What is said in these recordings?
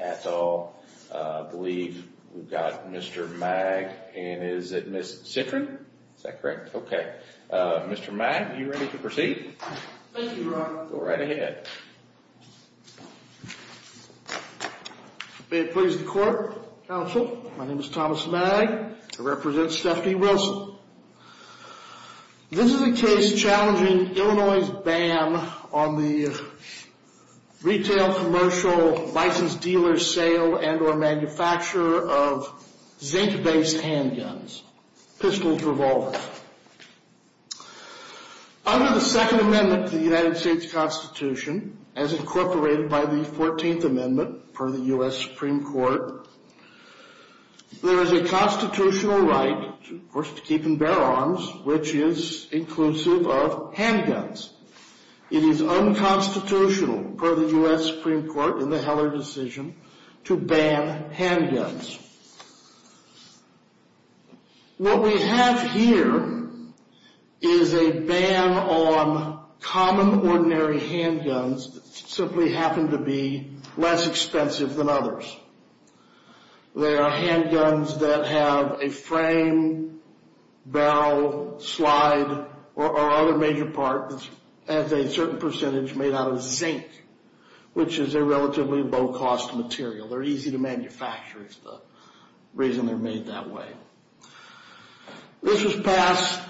at all. I believe we've got Mr. Magg and is it Miss Citron? Is that correct? Okay. Mr. Magg, are you ready to proceed? Thank you, Ron. Go right ahead. May it please the court, counsel. My name is Thomas Magg. I represent Stephanie Wilson. This is a case challenging Illinois' ban on the retail, commercial, licensed dealer sale and or manufacturer of zinc-based handguns, pistols, revolvers. Under the Second Amendment to the United States Constitution, as incorporated by the 14th Amendment per the U.S. Supreme Court, there is a constitutional right, of course, to keep and bear arms, which is inclusive of handguns. It is unconstitutional per the U.S. Supreme Court in the Heller decision to ban handguns. What we have here is a ban on common, ordinary handguns that simply happen to be less expensive than others. There are handguns that have a frame, barrel, slide, or other major part that has a certain percentage made out of zinc, which is a relatively low-cost material. They're easy to manufacture is the that way. This was passed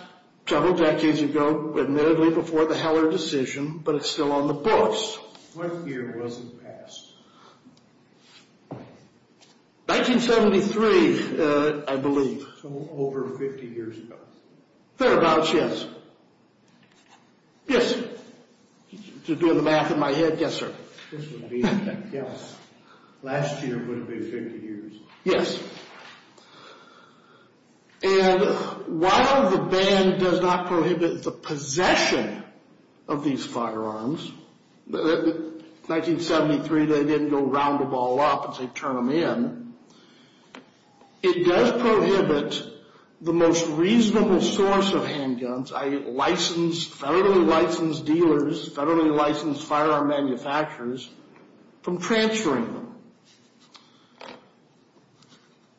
several decades ago, admittedly before the Heller decision, but it's still on the books. What year was it passed? 1973, I believe. So over 50 years ago. Thereabouts, yes. Yes, to do the math in my head, yes, sir. Last year would have been 50 years. Yes. And while the ban does not prohibit the possession of these firearms, 1973 they didn't go round them all up and say turn them in, it does prohibit the most reasonable source of handguns, i.e. federally licensed dealers, federally licensed firearm manufacturers, from transferring them.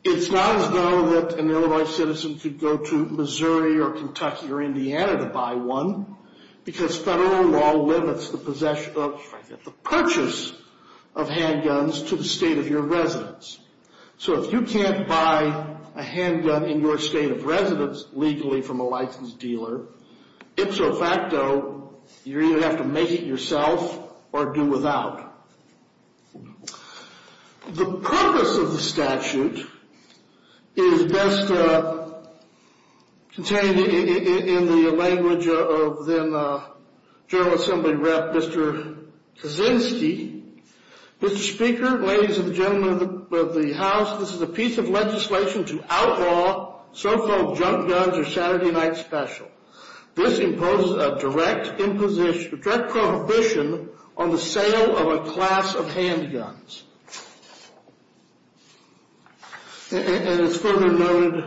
It's not as though that an Illinois citizen could go to Missouri or Kentucky or Indiana to buy one, because federal law limits the purchase of handguns to the state of your residence. So if you can't buy a handgun in your state of residence legally from a licensed dealer, ipso facto, you either have to make it yourself or do without. The purpose of the statute is best contained in the language of then Mr. Kaczynski. Mr. Speaker, ladies and gentlemen of the house, this is a piece of legislation to outlaw so-called junk guns or Saturday night special. This imposes a direct prohibition on the sale of a class of handguns. And it's further noted,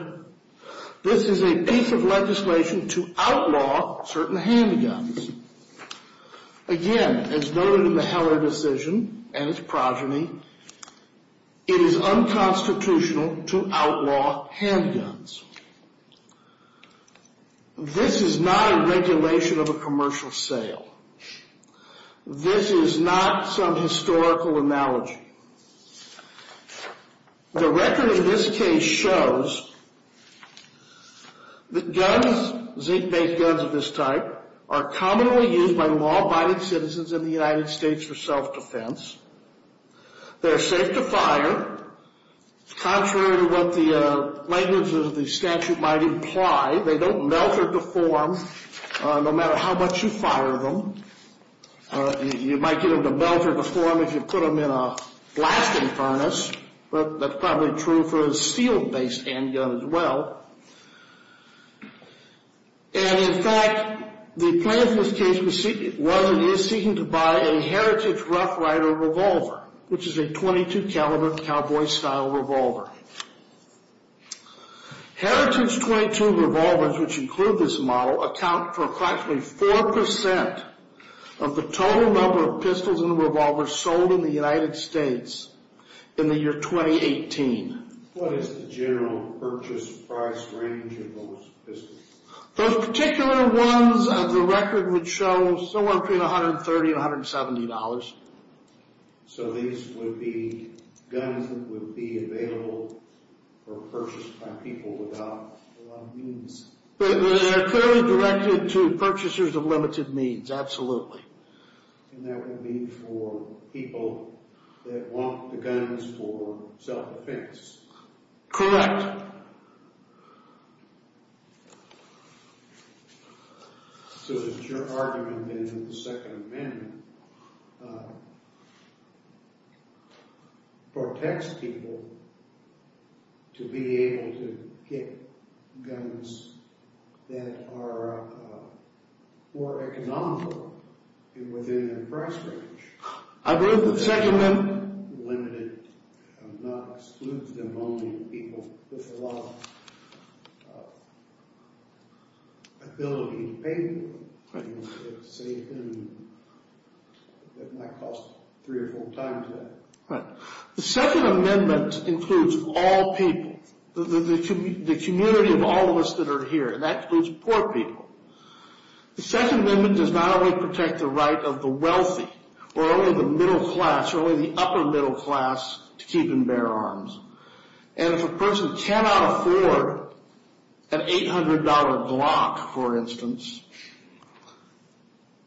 this is a piece of legislation to outlaw certain handguns. Again, as noted in the Heller decision and its progeny, it is unconstitutional to outlaw handguns. This is not a regulation of a commercial sale. This is not some historical analogy. The record of this case shows that guns, zinc-based guns of this type, are commonly used by law-abiding citizens in the United States for self-defense. They're safe to fire. Contrary to what the language of the statute might imply, they don't melt or deform no matter how much you fire them. You might get them to melt or deform if you put them in a blasting furnace, but that's probably true for a steel-based handgun as well. And in fact, the plan for this case was and is seeking to buy a Heritage Rough Rider revolver, which is a .22 caliber cowboy-style revolver. Heritage .22 revolvers, which include this model, account for approximately 4% of the total number of pistols and revolvers sold in the United States in the year 2018. What is the general purchase price range of those pistols? Those particular ones of the record would show somewhere between $130 and $170. So these would be guns that would be available for purchase by people without a lot of means? They're clearly directed to purchasers of limited means, absolutely. And that would be for people that want the guns for self-defense? Correct. So that your argument in the Second Amendment protects people to be able to get guns that are more economical and within a price range? I believe that the Second Amendment limited and not excludes them only from people with a lot of ability to pay for them. It might cost three or four times that. The Second Amendment includes all people, the community of all of us that are here. That includes poor people. The Second Amendment does not only protect the right of the wealthy or only the middle class or only the upper middle class to keep and bear arms. And if a person cannot afford an $800 Glock, for instance,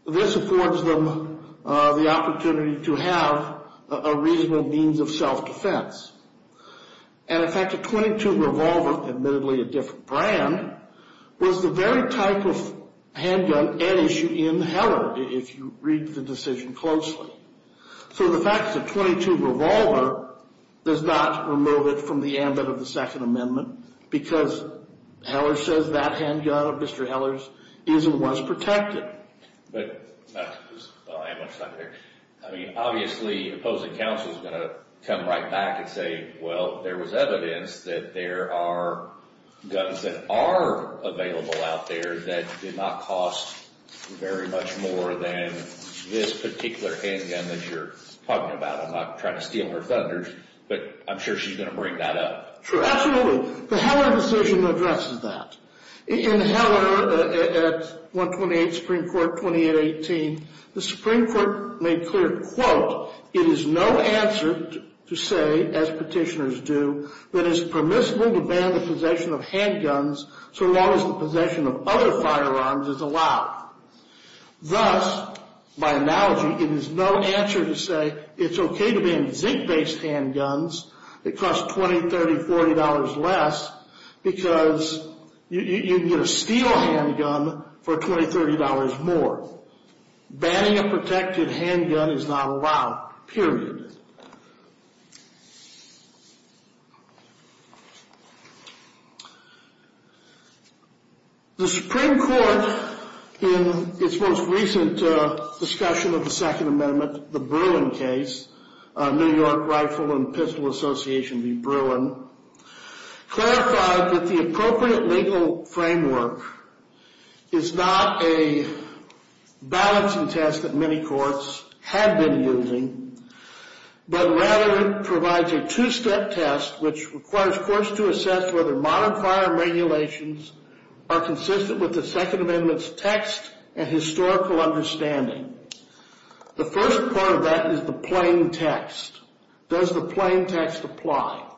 this affords them the opportunity to have a reasonable means of self-defense. And in fact, a .22 revolver, admittedly a different brand, was the very type of handgun at issue in Heller, if you read the decision closely. So the fact that a .22 revolver does not remove it from the ambit of the Second Amendment because Heller says that handgun of Mr. Heller's is and was protected. But I mean, obviously, opposing counsel is going to come right back and say, well, there was evidence that there are guns that are available out there that did not cost very much more than this particular handgun that you're talking about. I'm not trying to steal her thunders, but I'm sure she's going to bring that up. Sure, absolutely. The Heller decision addresses that. In Heller at 128 Supreme Court, 2818, the Supreme Court made clear, quote, it is no answer to say, as petitioners do, that is permissible to ban the possession of handguns so long as the possession of other firearms is allowed. Thus, by analogy, it is no answer to say it's okay to ban zinc-based handguns that cost $20, $30, $40 less because you can get a steel handgun for $20, $30 more. Banning a protected handgun is not allowed, period. The Supreme Court, in its most recent discussion of the Second Amendment, the Bruin case, New York Rifle and Pistol Association v. Bruin, clarified that the appropriate legal framework is not a balancing test that many courts have been using, but rather it provides a two-step test which requires courts to assess whether modern firearm regulations are consistent with the Second Amendment's text and historical understanding. The first part of that is the plain text. Does the plain text apply?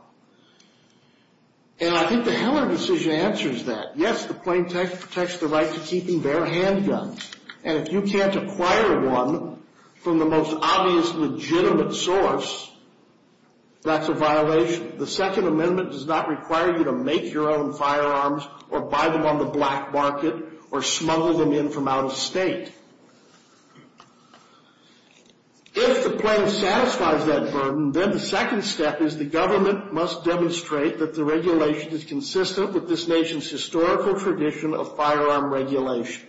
And I think the Heller decision answers that. Yes, the plain text protects the right to keep and bear handguns, and if you can't acquire one from the most obvious legitimate source, that's a violation. The Second Amendment does not require you to make your own firearms or buy them on the black market or smuggle them in from out of state. If the plain satisfies that burden, then the second step is the government must demonstrate that the regulation is consistent with this nation's historical tradition of firearm regulation.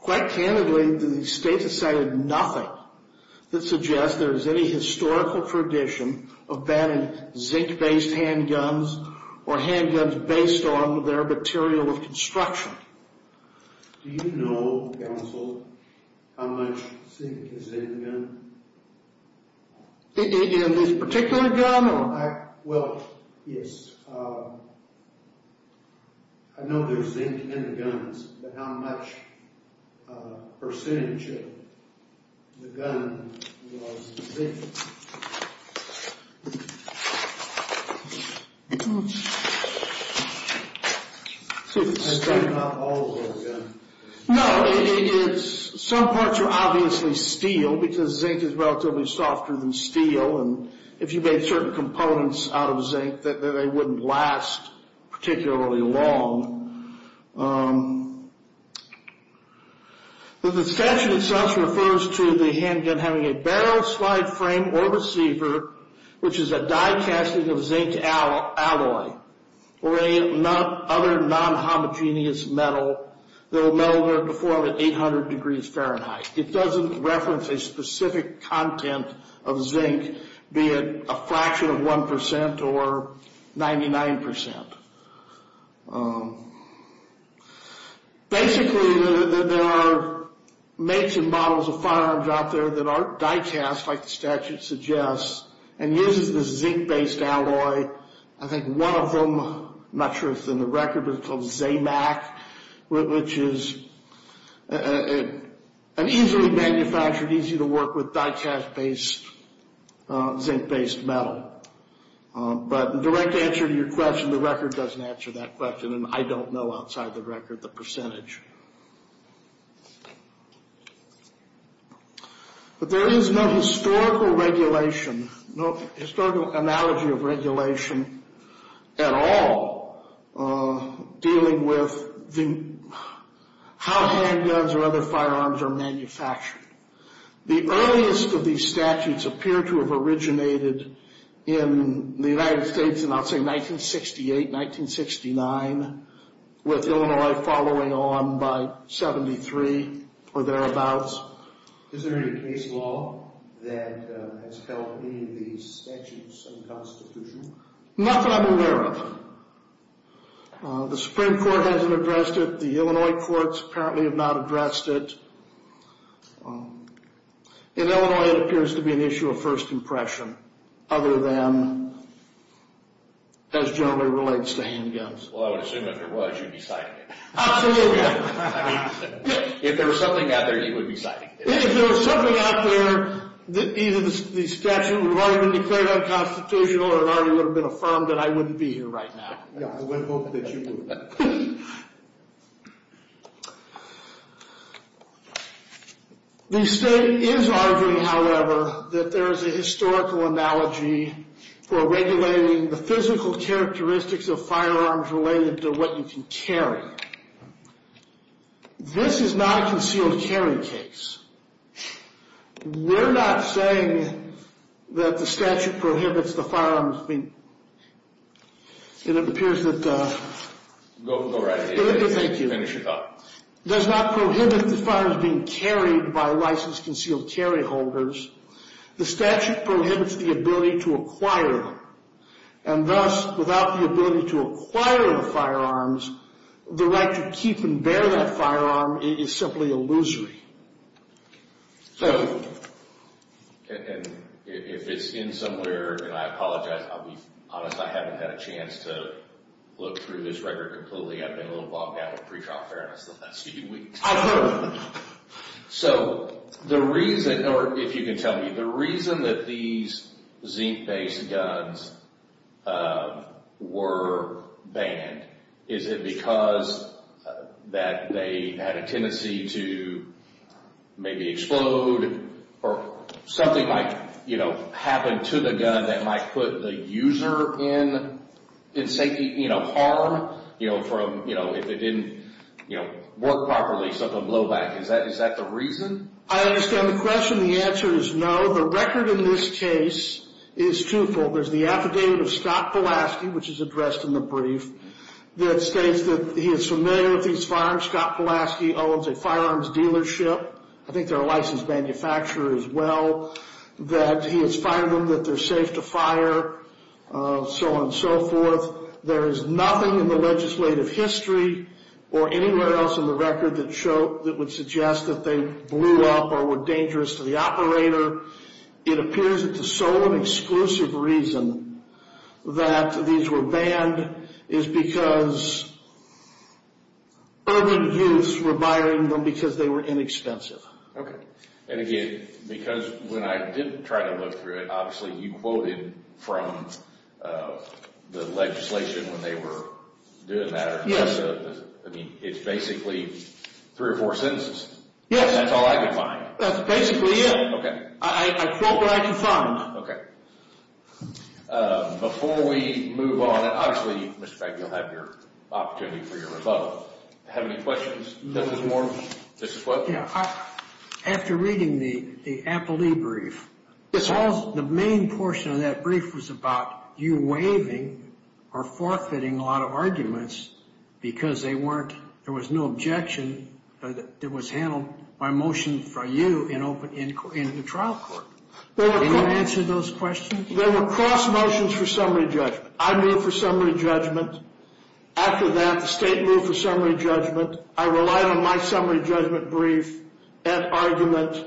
Quite candidly, the state has cited nothing that suggests there is any historical tradition of banning zinc-based handguns or handguns based on their material of construction. Do you know, counsel, how much zinc is in the gun? In this particular gun? Well, yes. I know there's zinc in the guns, but how much percentage of the gun was zinc? I've got it all over the gun. No, some parts are obviously steel, because zinc is relatively softer than steel, and if you made certain components out of zinc, they wouldn't last particularly long. The suspension itself refers to the handgun having a barrel slide frame or receiver, which is a die casting of zinc alloy, or any other non-homogeneous metal, though metal would be formed at 800 degrees Fahrenheit. It doesn't reference a specific content of zinc, be it a fraction of 1% or 99%. Basically, there are makes and models of firearms out there that aren't die cast, like the statute suggests, and uses this zinc-based alloy. I think one of them, I'm not sure if it's in the record, but it's called ZAMAC, which is an easily manufactured, easy-to-work-with, die-cast-based, zinc-based metal. But the direct answer to your question, the record doesn't answer that question, and I don't know, outside the record, the percentage. But there is no historical regulation, no historical analogy of regulation at all. Dealing with how handguns or other firearms are manufactured. The earliest of these statutes appear to have originated in the United States in, I'll say, 1968, 1969, with Illinois following on by 73, or thereabouts. Is there any case law that has held any of these statutes unconstitutional? Nothing I'm aware of. The Supreme Court hasn't addressed it. The Illinois courts apparently have not addressed it. In Illinois, it appears to be an issue of first impression, other than, as generally relates to handguns. Well, I would assume if there was, you'd be citing it. Absolutely. If there was something out there, you would be citing it. If there was something out there, either the statute would have already been declared unconstitutional, or it already would have been affirmed that I wouldn't be here right now. The state is arguing, however, that there is a historical analogy for regulating the physical characteristics of firearms related to what you can carry. Go ahead. This is not a concealed carry case. We're not saying that the statute prohibits the firearms being, it appears that, thank you, does not prohibit the firearms being carried by licensed concealed carry holders. The statute prohibits the ability to acquire them, and thus, without the ability to acquire the firearms, the right to keep and bear that firearm is simply illusory. If it's in somewhere, and I apologize, I'll be honest, I haven't had a chance to look through this record completely. I've been a little bogged down with pre-trial fairness the last few weeks. I've heard of it. So, the reason, or if you can tell me, the reason that these zinc-based guns were banned, is it because that they had a tendency to maybe explode, or something might happen to the gun that might put the user in harm from, if it didn't work properly, something would blow back. Is that the reason? I understand the question. The answer is no. The record in this case is truthful. There's the affidavit of Scott Pulaski, which is addressed in the brief, that states that he is familiar with these firearms. Scott Pulaski owns a firearms dealership. I think they're a licensed manufacturer as well, that he has fired them, that they're safe to fire, so on and so forth. There is nothing in the legislative history, or anywhere else in the record that would suggest that they blew up or were dangerous to the operator. It appears that the sole and exclusive reason that these were banned is because urban youths were buying them because they were inexpensive. Okay. And again, because when I did try to look through it, obviously you quoted from the legislation when they were doing that. I mean, it's basically three or four sentences. Yes. That's all I could find. That's basically it. I quote what I can find. Okay. Before we move on, and obviously, Mr. Frank, you'll have your opportunity for your rebuttal. Do you have any questions? This is what? Yeah. After reading the Appleby brief, the main portion of that brief was about you waving or forfeiting a lot of arguments because there was no objection that was handled by motion for you in the trial court. Did you answer those questions? There were cross motions for summary judgment. I moved for summary judgment. After that, the state moved for summary judgment. I relied on my summary judgment brief and argument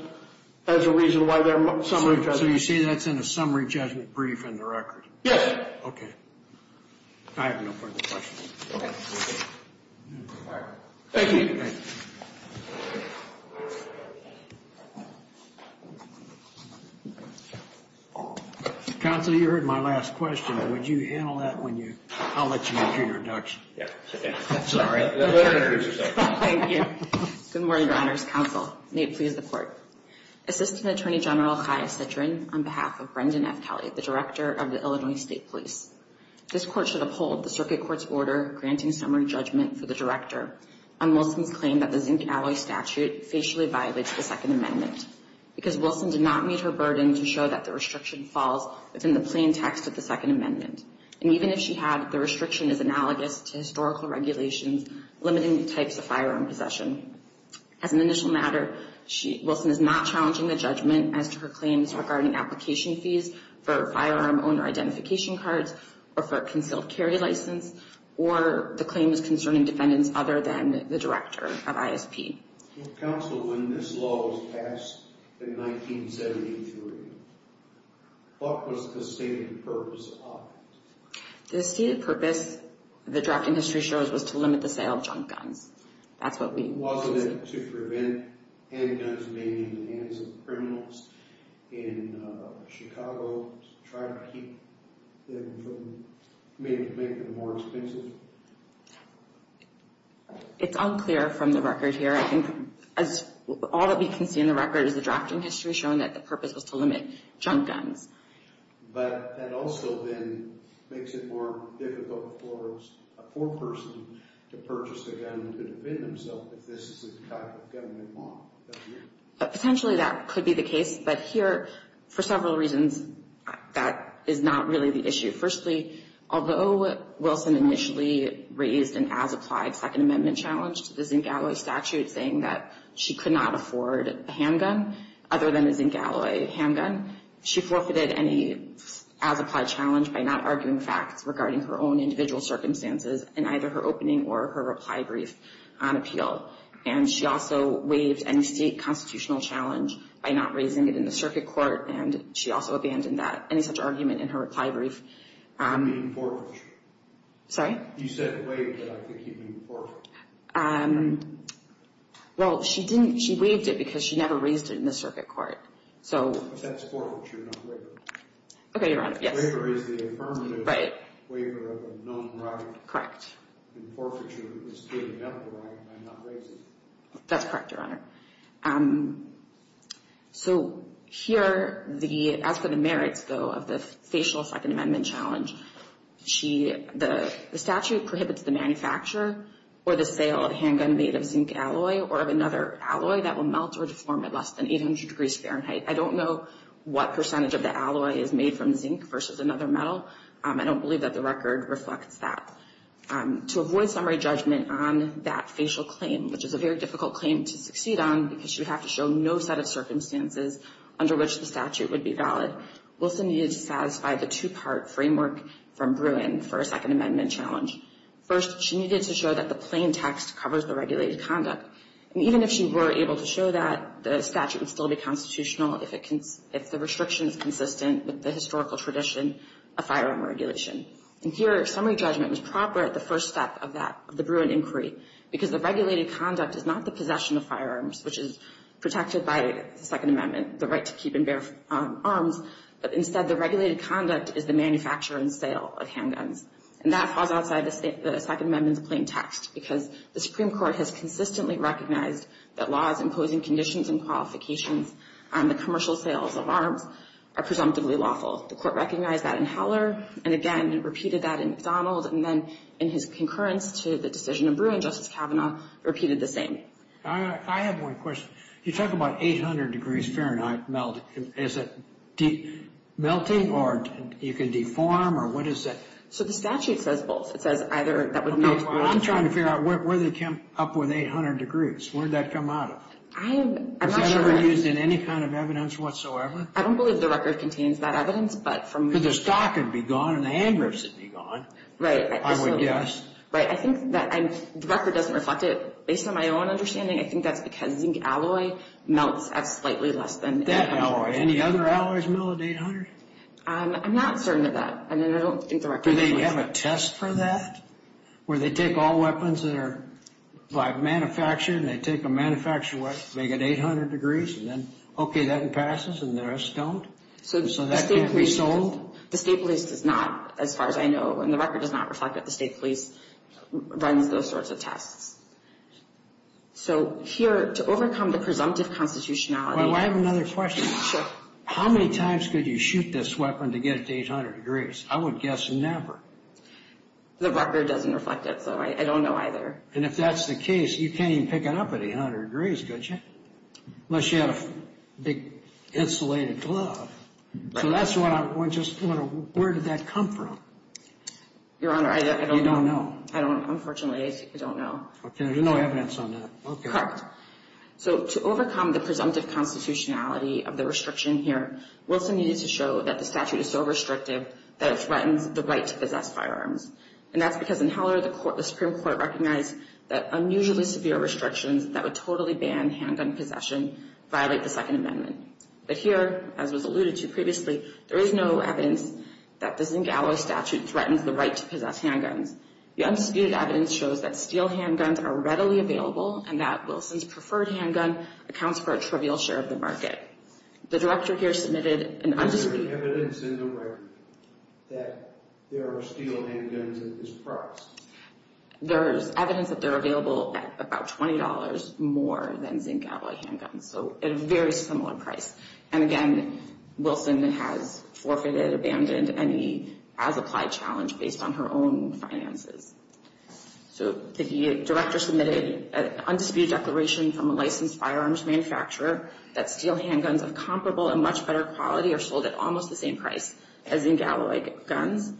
as a reason why there were summary judgments. So you say that's in a summary judgment brief in the record? Yes. Okay. I have no further questions. All right. Thank you. Counsel, you heard my last question. Would you handle that when you... I'll let you do your introduction. Yeah. Sorry. Thank you. Good morning, Your Honors Counsel. May it please the court. Assistant Attorney General Chaya Citrin on behalf of Brendan F. Kelly, the director of the Illinois State Police. This court should uphold the circuit court's order granting summary judgment for the director on Wilson's claim that the zinc alloy statute facially violates the Second Amendment because Wilson did not meet her burden to show that the restriction falls within the plain text of the Second Amendment. And even if she had, the restriction is analogous to historical regulations limiting the types of firearm possession. As an initial matter, Wilson is not challenging the judgment as to her claims regarding application fees for firearm owner identification cards or for a concealed carry license or the claims concerning defendants other than the director of ISP. Counsel, when this law was passed in 1973, what was the stated purpose of it? The stated purpose, the draft industry shows, was to limit the sale of junk guns. That's what we... Wasn't it to prevent handguns being in the hands of criminals in Chicago to try to keep them from maybe making them more expensive? It's unclear from the record here. I think as all that we can see in the record is the drafting history showing that the purpose was to limit junk guns. But that also then makes it more difficult for a poor person to purchase a gun to defend himself if this is the type of gun they want. Potentially, that could be the case. But here, for several reasons, that is not really the issue. Firstly, although Wilson initially raised an as-applied Second Amendment challenge to the zinc alloy statute saying that she could not afford a handgun other than a zinc alloy handgun, she forfeited any as-applied challenge by not arguing facts regarding her own individual on appeal. And she also waived any state constitutional challenge by not raising it in the circuit court, and she also abandoned any such argument in her reply brief. Sorry? You said waived, but I think you mean forfeited. Well, she didn't. She waived it because she never raised it in the circuit court. But that's forfeiture, not waiver. Okay, you're on it. Yes. Waiver is the affirmative waiver of a known right. Correct. And forfeiture is clearly a medical right, and I'm not raising it. That's correct, Your Honor. So here, as for the merits, though, of the facial Second Amendment challenge, the statute prohibits the manufacturer or the sale of a handgun made of zinc alloy or of another alloy that will melt or deform at less than 800 degrees Fahrenheit. I don't know what percentage of the alloy is made from zinc versus another metal. I don't believe that the record reflects that. To avoid summary judgment on that facial claim, which is a very difficult claim to succeed on because you have to show no set of circumstances under which the statute would be valid, Wilson needed to satisfy the two part framework from Bruin for a Second Amendment challenge. First, she needed to show that the plain text covers the regulated conduct. And even if she were able to show that, the statute would still be constitutional if the restriction is consistent with the historical tradition of firearm regulation. And here, summary judgment was proper at the first step of that, of the Bruin inquiry, because the regulated conduct is not the possession of firearms, which is protected by the Second Amendment, the right to keep and bear arms, but instead the regulated conduct is the manufacture and sale of handguns. And that falls outside the Second Amendment's plain text because the Supreme Court has consistently recognized that laws imposing conditions and qualifications on the commercial sales of arms are presumptively lawful. The Court recognized that in Heller, and again, repeated that in McDonald, and then in his concurrence to the decision of Bruin, Justice Kavanaugh repeated the same. I have one question. You talk about 800 degrees Fahrenheit melt. Is it melting, or you can deform, or what is it? So the statute says both. It says either that would melt... I'm trying to figure out where they came up with 800 degrees. Where'd that come out of? I'm not sure. Is that ever used in any kind of evidence whatsoever? I don't believe the record contains that evidence, but from... Because the stock would be gone, and the hand grips would be gone. Right. I would guess. Right. I think that the record doesn't reflect it. Based on my own understanding, I think that's because zinc alloy melts at slightly less than 800. That alloy. Any other alloys melt at 800? I'm not certain of that, and I don't think the record... Do they have a test for that, where they take all weapons that are manufactured, and they take a manufactured weapon, make it 800 degrees, and then, okay, that passes, and the rest don't? So that can't be sold? The state police does not, as far as I know, and the record does not reflect that the state police runs those sorts of tests. So here, to overcome the presumptive constitutionality... Well, I have another question. How many times could you shoot this weapon to get it to 800 degrees? I would guess never. The record doesn't reflect it, so I don't know either. And if that's the case, you can't pick it up at 800 degrees, could you? Unless you had a big, insulated glove. So that's what I... Where did that come from? Your Honor, I don't know. You don't know. I don't... Unfortunately, I don't know. Okay. There's no evidence on that. Correct. So to overcome the presumptive constitutionality of the restriction here, Wilson needed to show that the statute is so restrictive that it threatens the right to possess firearms. And that's because in Heller, the Supreme Court recognized that unusually severe restrictions that would totally ban handgun possession violate the Second Amendment. But here, as was alluded to previously, there is no evidence that the Zingallo statute threatens the right to possess handguns. The undisputed evidence shows that steel handguns are readily available and that Wilson's preferred handgun accounts for a trivial share of the market. The Director here submitted an undisputed... There's no evidence in the record that there are steel handguns at this price. There's evidence that they're available at about $20 more than Zingallo handguns, so at a very similar price. And again, Wilson has forfeited, abandoned any as-applied challenge based on her own finances. So the Director submitted an undisputed declaration from a licensed firearms manufacturer that steel handguns of comparable and much better quality are sold at $20 more than Zingallo handguns.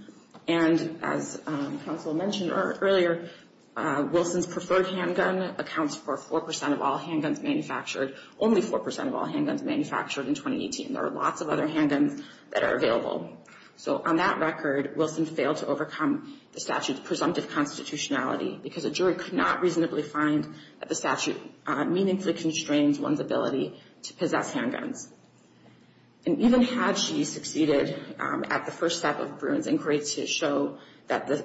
And as I mentioned earlier, Wilson's preferred handgun accounts for 4% of all handguns manufactured. Only 4% of all handguns manufactured in 2018. There are lots of other handguns that are available. So on that record, Wilson failed to overcome the statute's presumptive constitutionality because a jury could not reasonably find that the statute meaningfully constrains one's ability to possess handguns. And even had she succeeded at the first step of Bruin's inquiry to show that the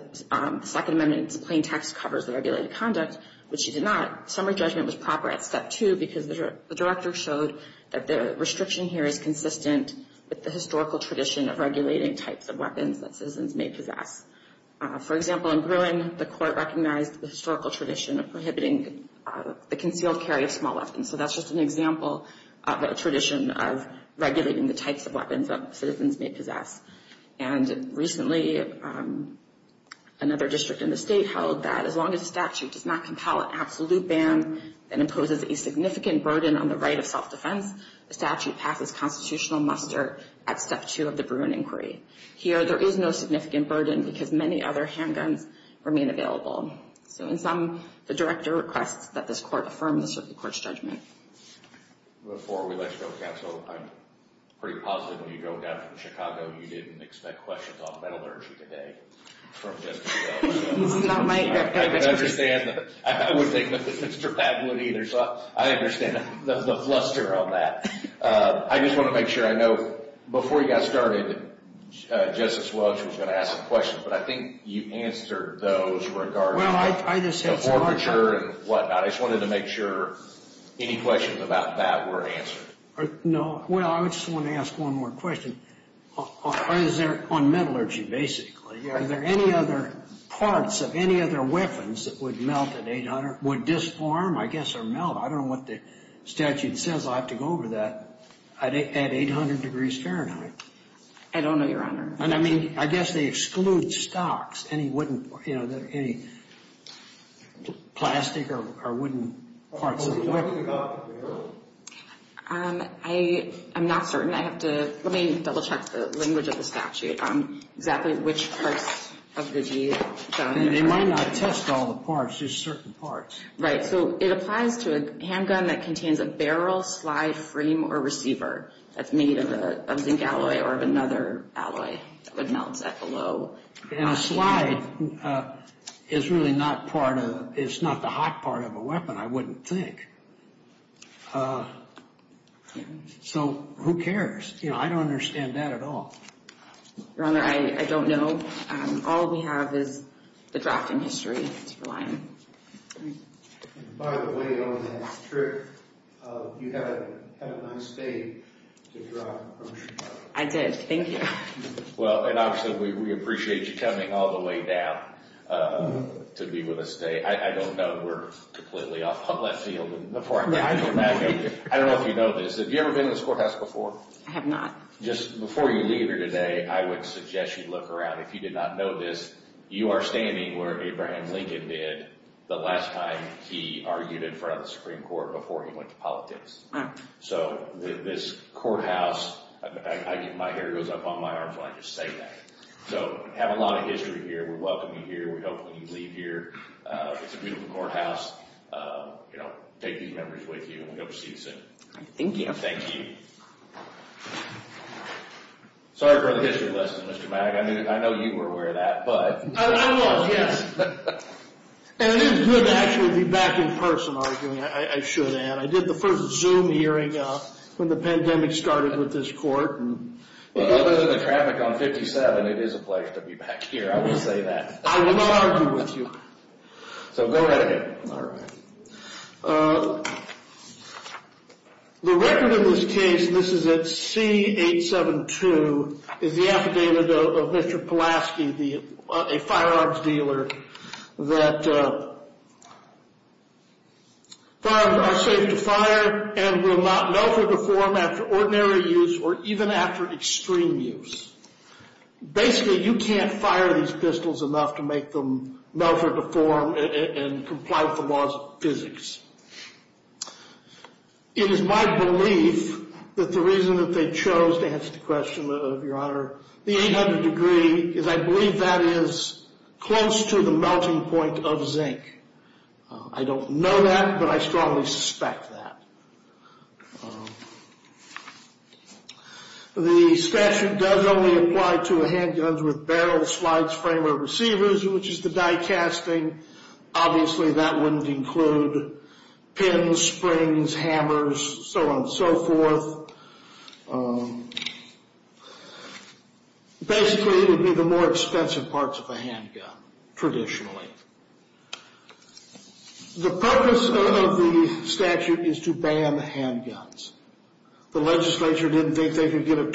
Second Amendment's plain text covers the regulated conduct, which she did not, summary judgment was proper at step two because the Director showed that the restriction here is consistent with the historical tradition of regulating types of weapons that citizens may possess. For example, in Bruin, the Court recognized the historical tradition of prohibiting the concealed carry of small weapons. So that's just an example of a tradition of regulating the another district in the state held that as long as a statute does not compel an absolute ban and imposes a significant burden on the right of self-defense, the statute passes constitutional muster at step two of the Bruin inquiry. Here, there is no significant burden because many other handguns remain available. So in sum, the Director requests that this Court affirm the Circuit Court's judgment. Before we let you go, Kat, so I'm pretty positive when you go down from Chicago you didn't expect questions on metallurgy today from Justice Welch. I would think that Mr. Patwood either, so I understand the fluster on that. I just want to make sure I know before you got started, Justice Welch was going to ask some questions, but I think you answered those regarding the forfeiture and whatnot. I just wanted to make sure any questions about that were answered. No, well, I just want to ask one more question. Is there, on metallurgy basically, are there any other parts of any other weapons that would melt at 800, would disarm, I guess, or melt? I don't know what the statute says. I'll have to go over that at 800 degrees Fahrenheit. I don't know, Your Honor. And I mean, I guess they exclude stocks, any wooden, any plastic or wooden parts of the weapon. I'm not certain. I have to, let me double check the language of the statute on exactly which parts of the gun. They might not test all the parts, just certain parts. Right, so it applies to a handgun that contains a barrel, slide, frame, or receiver that's made of a zinc alloy or another alloy that would melt that below. And a slide is really not part of, it's not the hot part of a weapon, I wouldn't think. So who cares? You know, I don't understand that at all. Your Honor, I don't know. All we have is the drafting history, that's the line. By the way, on that trip, you had a nice day to drive from Chicago. I did, thank you. Well, and obviously, we appreciate you coming all the way down to be with us today. I don't know, we're completely off on left field. I don't know if you know this. Have you ever been in this courthouse before? I have not. Just before you leave here today, I would suggest you look around. If you did not know this, you are standing where Abraham Lincoln did the last time he argued in front of the Supreme Court before he went to politics. So this courthouse, my hair goes up on my arms when I just say that. So, have a lot of history here. We welcome you here. We hope when you leave here, it's a beautiful courthouse. You know, take these members with you and we hope to see you soon. Thank you. Thank you. Sorry for the history lesson, Mr. Mack. I know you were aware of that, but... I was, yes. And it is good to actually be back in person arguing, I should add. I did the first Zoom hearing when the pandemic started with this court. But other than the traffic on 57, it is a place to be back here, I will say that. I will not argue with you. So go right ahead. All right. The record in this case, and this is at C872, is the affidavit of Mr. Pulaski, a firearms dealer, that firearms are safe to fire and will not melt or deform after ordinary use or even after extreme use. Basically, you can't fire these pistols enough to make them melt or deform and comply with the laws of physics. It is my belief that the reason that they chose to answer the question of your honor, the 800 degree, is I believe that is close to the melting point of zinc. I don't know that, but I strongly suspect that. The statute does only apply to handguns with barrel, slides, frame, or receivers, which is the die casting. Obviously, that wouldn't include pins, springs, hammers, so on and so forth. Basically, it would be the more expensive parts of a handgun, traditionally. The purpose of the statute is to ban handguns. The legislature didn't think they could get a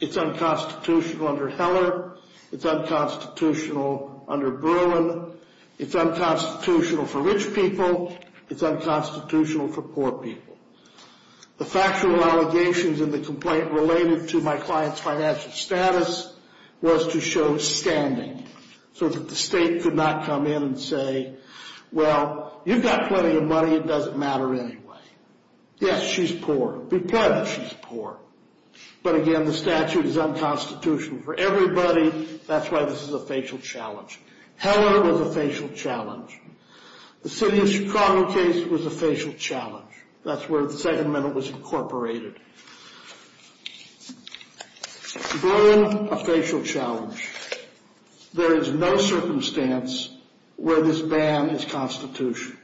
It's unconstitutional under Heller. It's unconstitutional under Bruin. It's unconstitutional for rich people. It's unconstitutional for poor people. The factual allegations in the complaint related to my client's financial status was to show standing, so that the state could not come in and say, well, you've got plenty of money. It doesn't matter anyway. Yes, she's poor. Be But again, the statute is unconstitutional for everybody. That's why this is a facial challenge. Heller was a facial challenge. The city of Chicago case was a facial challenge. That's where the second amendment was incorporated. Bruin, a facial challenge. There is no circumstance where this ban is constitutional.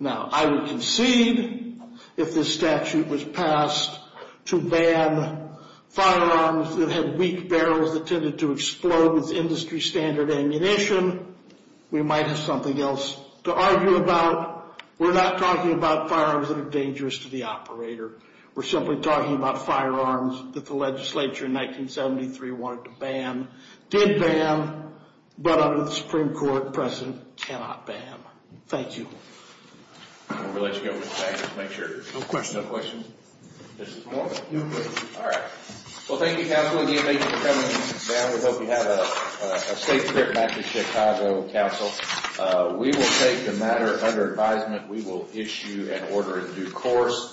Now, I would concede, if this statute was passed, to ban firearms that had weak barrels that tended to explode with industry standard ammunition, we might have something else to argue about. We're not talking about firearms that are dangerous to the operator. We're simply talking about firearms that the legislature in 1973 wanted to ban, did ban, but under the Supreme Court, cannot ban. Thank you.